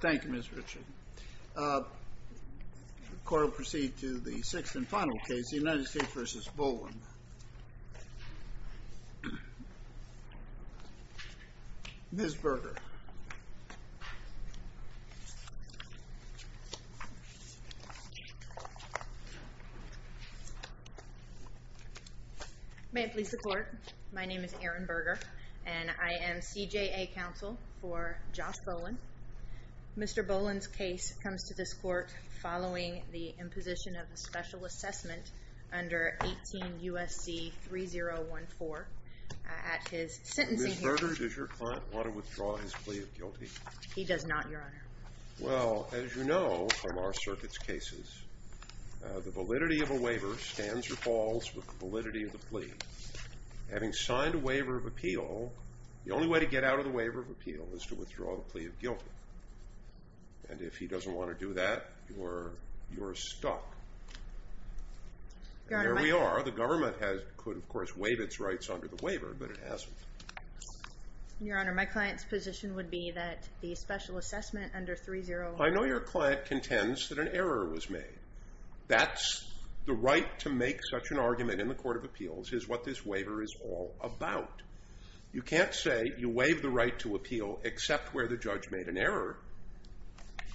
Thank you, Ms. Richard. The court will proceed to the sixth and final case, the United States v. Bolin. Ms. Berger. May it please the court, my name is Erin Berger, and I am CJA counsel for Josh Bolin. Mr. Bolin's case comes to this court following the imposition of a special assessment under 18 U.S.C. 3014. Ms. Berger, does your client want to withdraw his plea of guilty? He does not, Your Honor. Well, as you know from our circuit's cases, the validity of a waiver stands or falls with the validity of the plea. Having signed a waiver of appeal, the only way to get out of the waiver of appeal is to withdraw the plea of guilty. And if he doesn't want to do that, you're stuck. And there we are. The government could, of course, waive its rights under the waiver, but it hasn't. Your Honor, my client's position would be that the special assessment under 3014 I know your client contends that an error was made. That's the right to make such an argument in the court of appeals is what this waiver is all about. You can't say you waive the right to appeal except where the judge made an error.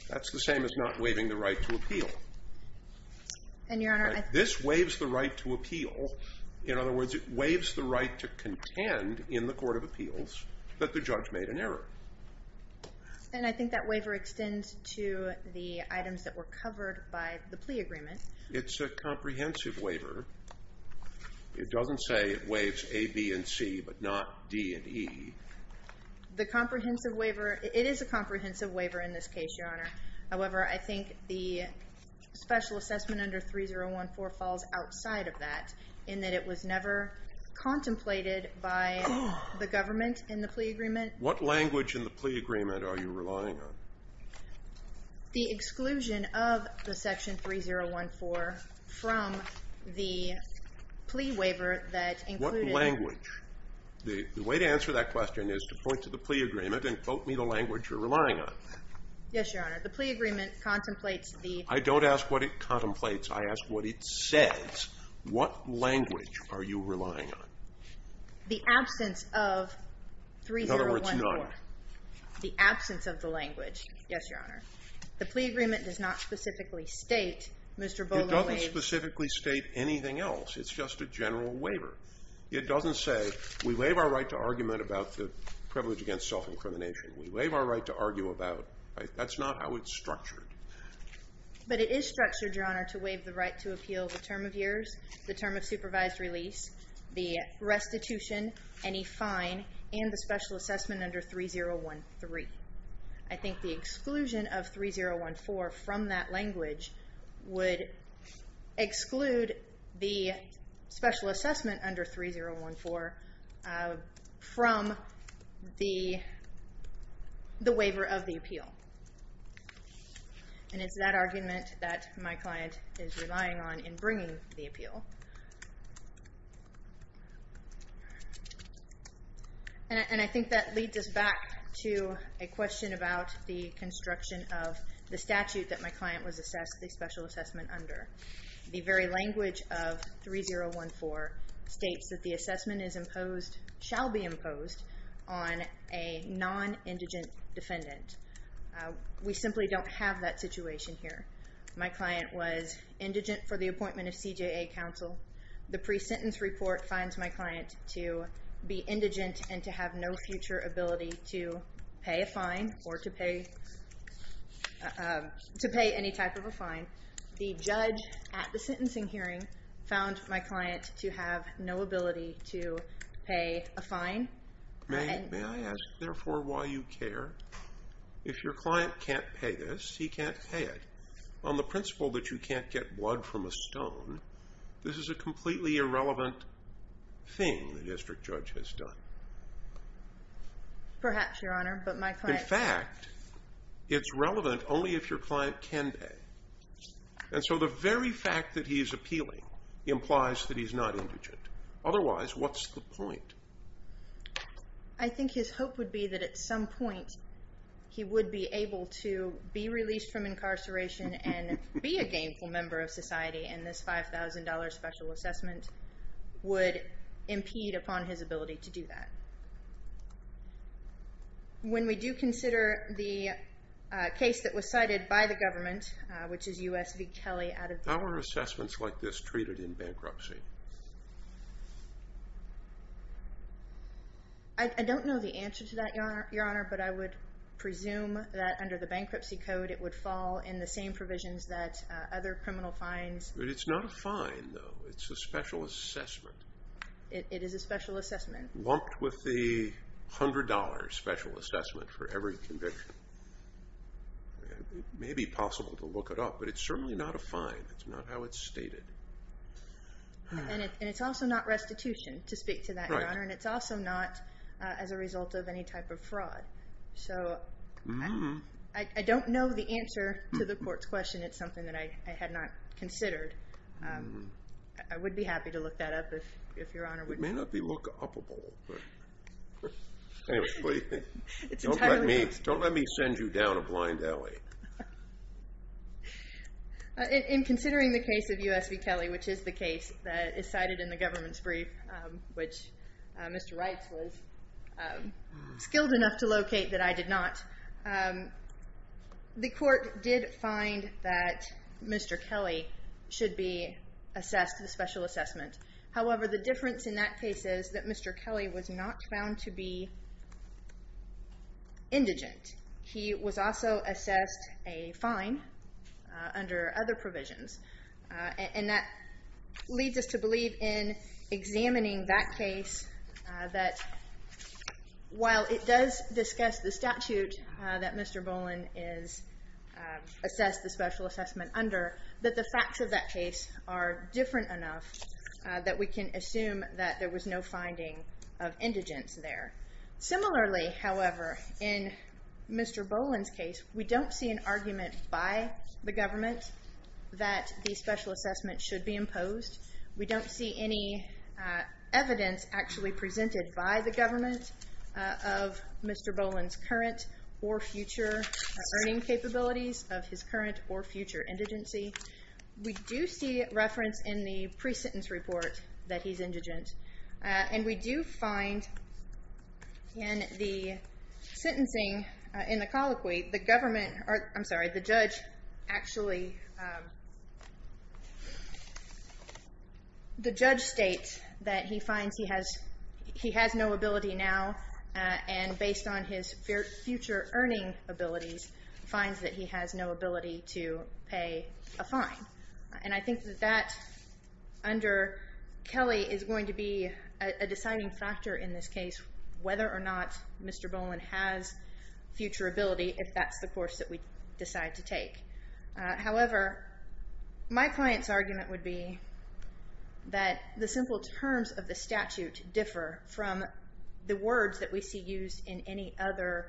That's the same as not waiving the right to appeal. And, Your Honor, I think. This waives the right to appeal. In other words, it waives the right to contend in the court of appeals that the judge made an error. And I think that waiver extends to the items that were covered by the plea agreement. It's a comprehensive waiver. It doesn't say it waives A, B, and C, but not D and E. The comprehensive waiver. It is a comprehensive waiver in this case, Your Honor. However, I think the special assessment under 3014 falls outside of that, in that it was never contemplated by the government in the plea agreement. What language in the plea agreement are you relying on? The exclusion of the Section 3014 from the plea waiver that included. What language? The way to answer that question is to point to the plea agreement and quote me the language you're relying on. Yes, Your Honor. The plea agreement contemplates the. I don't ask what it contemplates. I ask what it says. What language are you relying on? The absence of 3014. In other words, none. The absence of the language. Yes, Your Honor. The plea agreement does not specifically state, Mr. Boland waived. It doesn't specifically state anything else. It's just a general waiver. It doesn't say we waive our right to argument about the privilege against self-incrimination. We waive our right to argue about. That's not how it's structured. But it is structured, Your Honor, to waive the right to appeal the term of years, the term of supervised release, the restitution, any fine, and the special assessment under 3013. I think the exclusion of 3014 from that language would exclude the special assessment under 3014 from the waiver of the appeal. And it's that argument that my client is relying on in bringing the appeal. And I think that leads us back to a question about the construction of the statute that my client was assessed the special assessment under. The very language of 3014 states that the assessment is imposed, shall be imposed, on a non-indigent defendant. We simply don't have that situation here. My client was indigent for the appointment of CJA counsel. The pre-sentence report finds my client to be indigent and to have no future ability to pay a fine or to pay any type of a fine. The judge at the sentencing hearing found my client to have no ability to pay a fine. May I ask, therefore, why you care? If your client can't pay this, he can't pay it, on the principle that you can't get blood from a stone, this is a completely irrelevant thing the district judge has done. Perhaps, Your Honor, but my client… In fact, it's relevant only if your client can pay. And so the very fact that he's appealing implies that he's not indigent. Otherwise, what's the point? I think his hope would be that at some point he would be able to be released from incarceration and be a gainful member of society and this $5,000 special assessment would impede upon his ability to do that. When we do consider the case that was cited by the government, which is U.S. v. Kelly… How are assessments like this treated in bankruptcy? I don't know the answer to that, Your Honor, but I would presume that under the bankruptcy code it would fall in the same provisions that other criminal fines… But it's not a fine, though. It's a special assessment. It is a special assessment. Lumped with the $100 special assessment for every conviction. It may be possible to look it up, but it's certainly not a fine. It's not how it's stated. And it's also not restitution, to speak to that, Your Honor. And it's also not as a result of any type of fraud. So I don't know the answer to the court's question. It's something that I had not considered. I would be happy to look that up if Your Honor would… It may not be look-up-able. Don't let me send you down a blind alley. In considering the case of U.S. v. Kelly, which is the case that is cited in the government's brief, which Mr. Reitz was skilled enough to locate that I did not, the court did find that Mr. Kelly should be assessed with a special assessment. However, the difference in that case is that Mr. Kelly was not found to be indigent. He was also assessed a fine under other provisions. And that leads us to believe in examining that case that, while it does discuss the statute that Mr. Boland is assessed the special assessment under, that the facts of that case are different enough that we can assume that there was no finding of indigence there. Similarly, however, in Mr. Boland's case, we don't see an argument by the government that the special assessment should be imposed. We don't see any evidence actually presented by the government of Mr. Boland's current or future earning capabilities of his current or future indigency. We do see reference in the pre-sentence report that he's indigent. And we do find in the sentencing, in the colloquy, the government, I'm sorry, the judge actually, the judge states that he finds he has no ability now, and based on his future earning abilities, finds that he has no ability to pay a fine. And I think that under Kelly is going to be a deciding factor in this case, whether or not Mr. Boland has future ability, if that's the course that we decide to take. However, my client's argument would be that the simple terms of the statute differ from the words that we see used in any other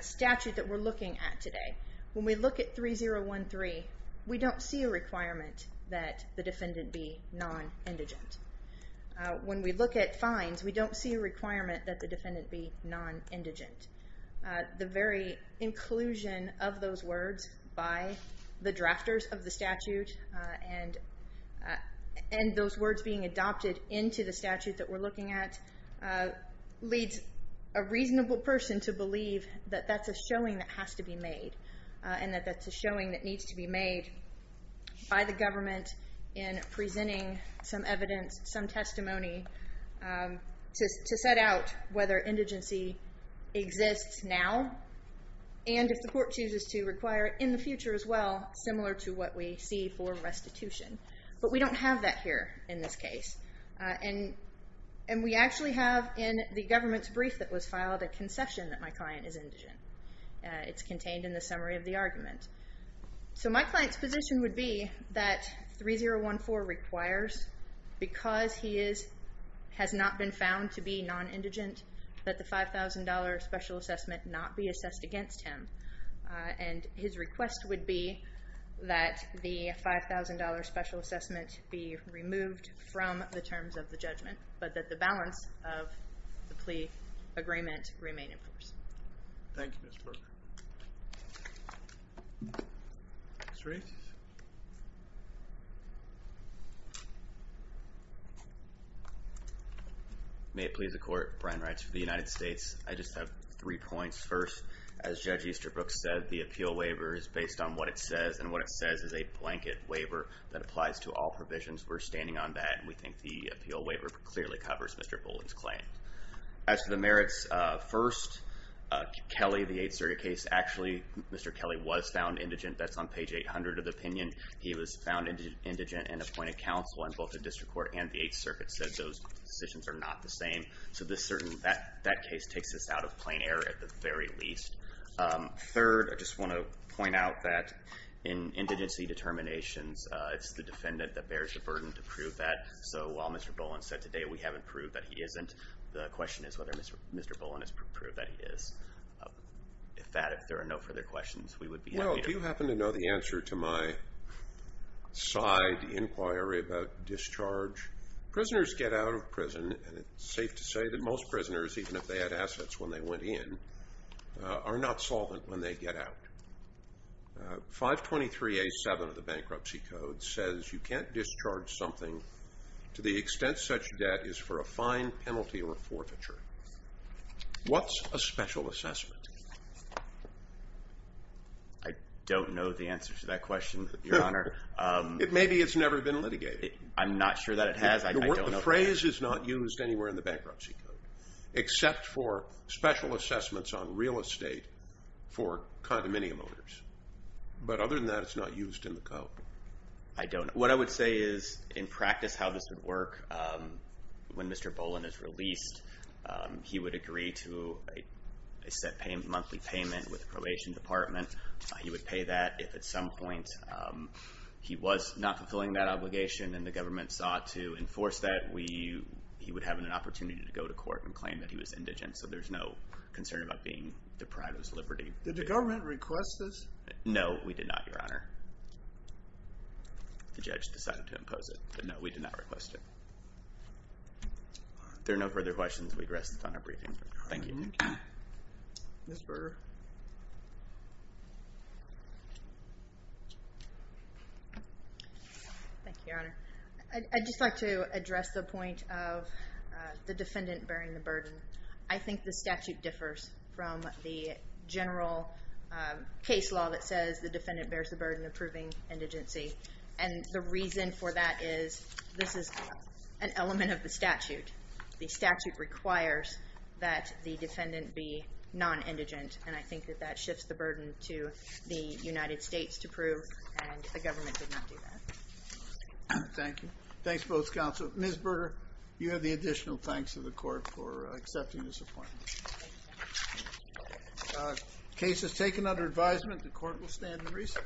statute that we're looking at today. When we look at 3013, we don't see a requirement that the defendant be non-indigent. When we look at fines, we don't see a requirement that the defendant be non-indigent. The very inclusion of those words by the drafters of the statute and those words being adopted into the statute that we're looking at leads a reasonable person to believe that that's a showing that has to be made and that that's a showing that needs to be made by the government in presenting some evidence, some testimony to set out whether indigency exists now and if the court chooses to require it in the future as well, similar to what we see for restitution. But we don't have that here in this case. And we actually have in the government's brief that was filed a concession that my client is indigent. So my client's position would be that 3014 requires, because he has not been found to be non-indigent, that the $5,000 special assessment not be assessed against him. And his request would be that the $5,000 special assessment be removed from the terms of the judgment but that the balance of the plea agreement remain in force. Thank you, Mr. Berger. Mr. Reese? May it please the Court, Brian Reitz for the United States. I just have three points. First, as Judge Easterbrook said, the appeal waiver is based on what it says, and what it says is a blanket waiver that applies to all provisions. We're standing on that, and we think the appeal waiver clearly covers Mr. Bullen's claim. As for the merits, first, Kelly, the Eighth Circuit case, actually Mr. Kelly was found indigent. That's on page 800 of the opinion. He was found indigent and appointed counsel in both the District Court and the Eighth Circuit, said those decisions are not the same. So that case takes us out of plain error at the very least. Third, I just want to point out that in indigency determinations, it's the defendant that bears the burden to prove that. So while Mr. Bullen said today we haven't proved that he isn't, the question is whether Mr. Bullen has proved that he is. If there are no further questions, we would be happy to. Well, do you happen to know the answer to my side inquiry about discharge? Prisoners get out of prison, and it's safe to say that most prisoners, even if they had assets when they went in, are not solvent when they get out. 523A7 of the Bankruptcy Code says you can't discharge something to the extent such debt is for a fine, penalty, or forfeiture. What's a special assessment? I don't know the answer to that question, Your Honor. Maybe it's never been litigated. I'm not sure that it has. The phrase is not used anywhere in the Bankruptcy Code, except for special assessments on real estate for condominium owners. But other than that, it's not used in the code. I don't know. What I would say is, in practice, how this would work, when Mr. Bullen is released, he would agree to a set monthly payment with the Probation Department. He would pay that. If at some point he was not fulfilling that obligation and the government sought to enforce that, he would have an opportunity to go to court and claim that he was indigent. So there's no concern about being deprived of his liberty. Did the government request this? No, we did not, Your Honor. The judge decided to impose it. But no, we did not request it. If there are no further questions, we rest on our briefing. Thank you. Ms. Berger. Thank you, Your Honor. I'd just like to address the point of the defendant bearing the burden. I think the statute differs from the general case law that says the defendant bears the burden of proving indigency. And the reason for that is this is an element of the statute. The statute requires that the defendant be non-indigent, and I think that that shifts the burden to the United States to prove, and the government did not do that. Thank you. Thanks, both counsel. Ms. Berger, you have the additional thanks of the court for accepting this appointment. Case is taken under advisement. The court will stand in recess.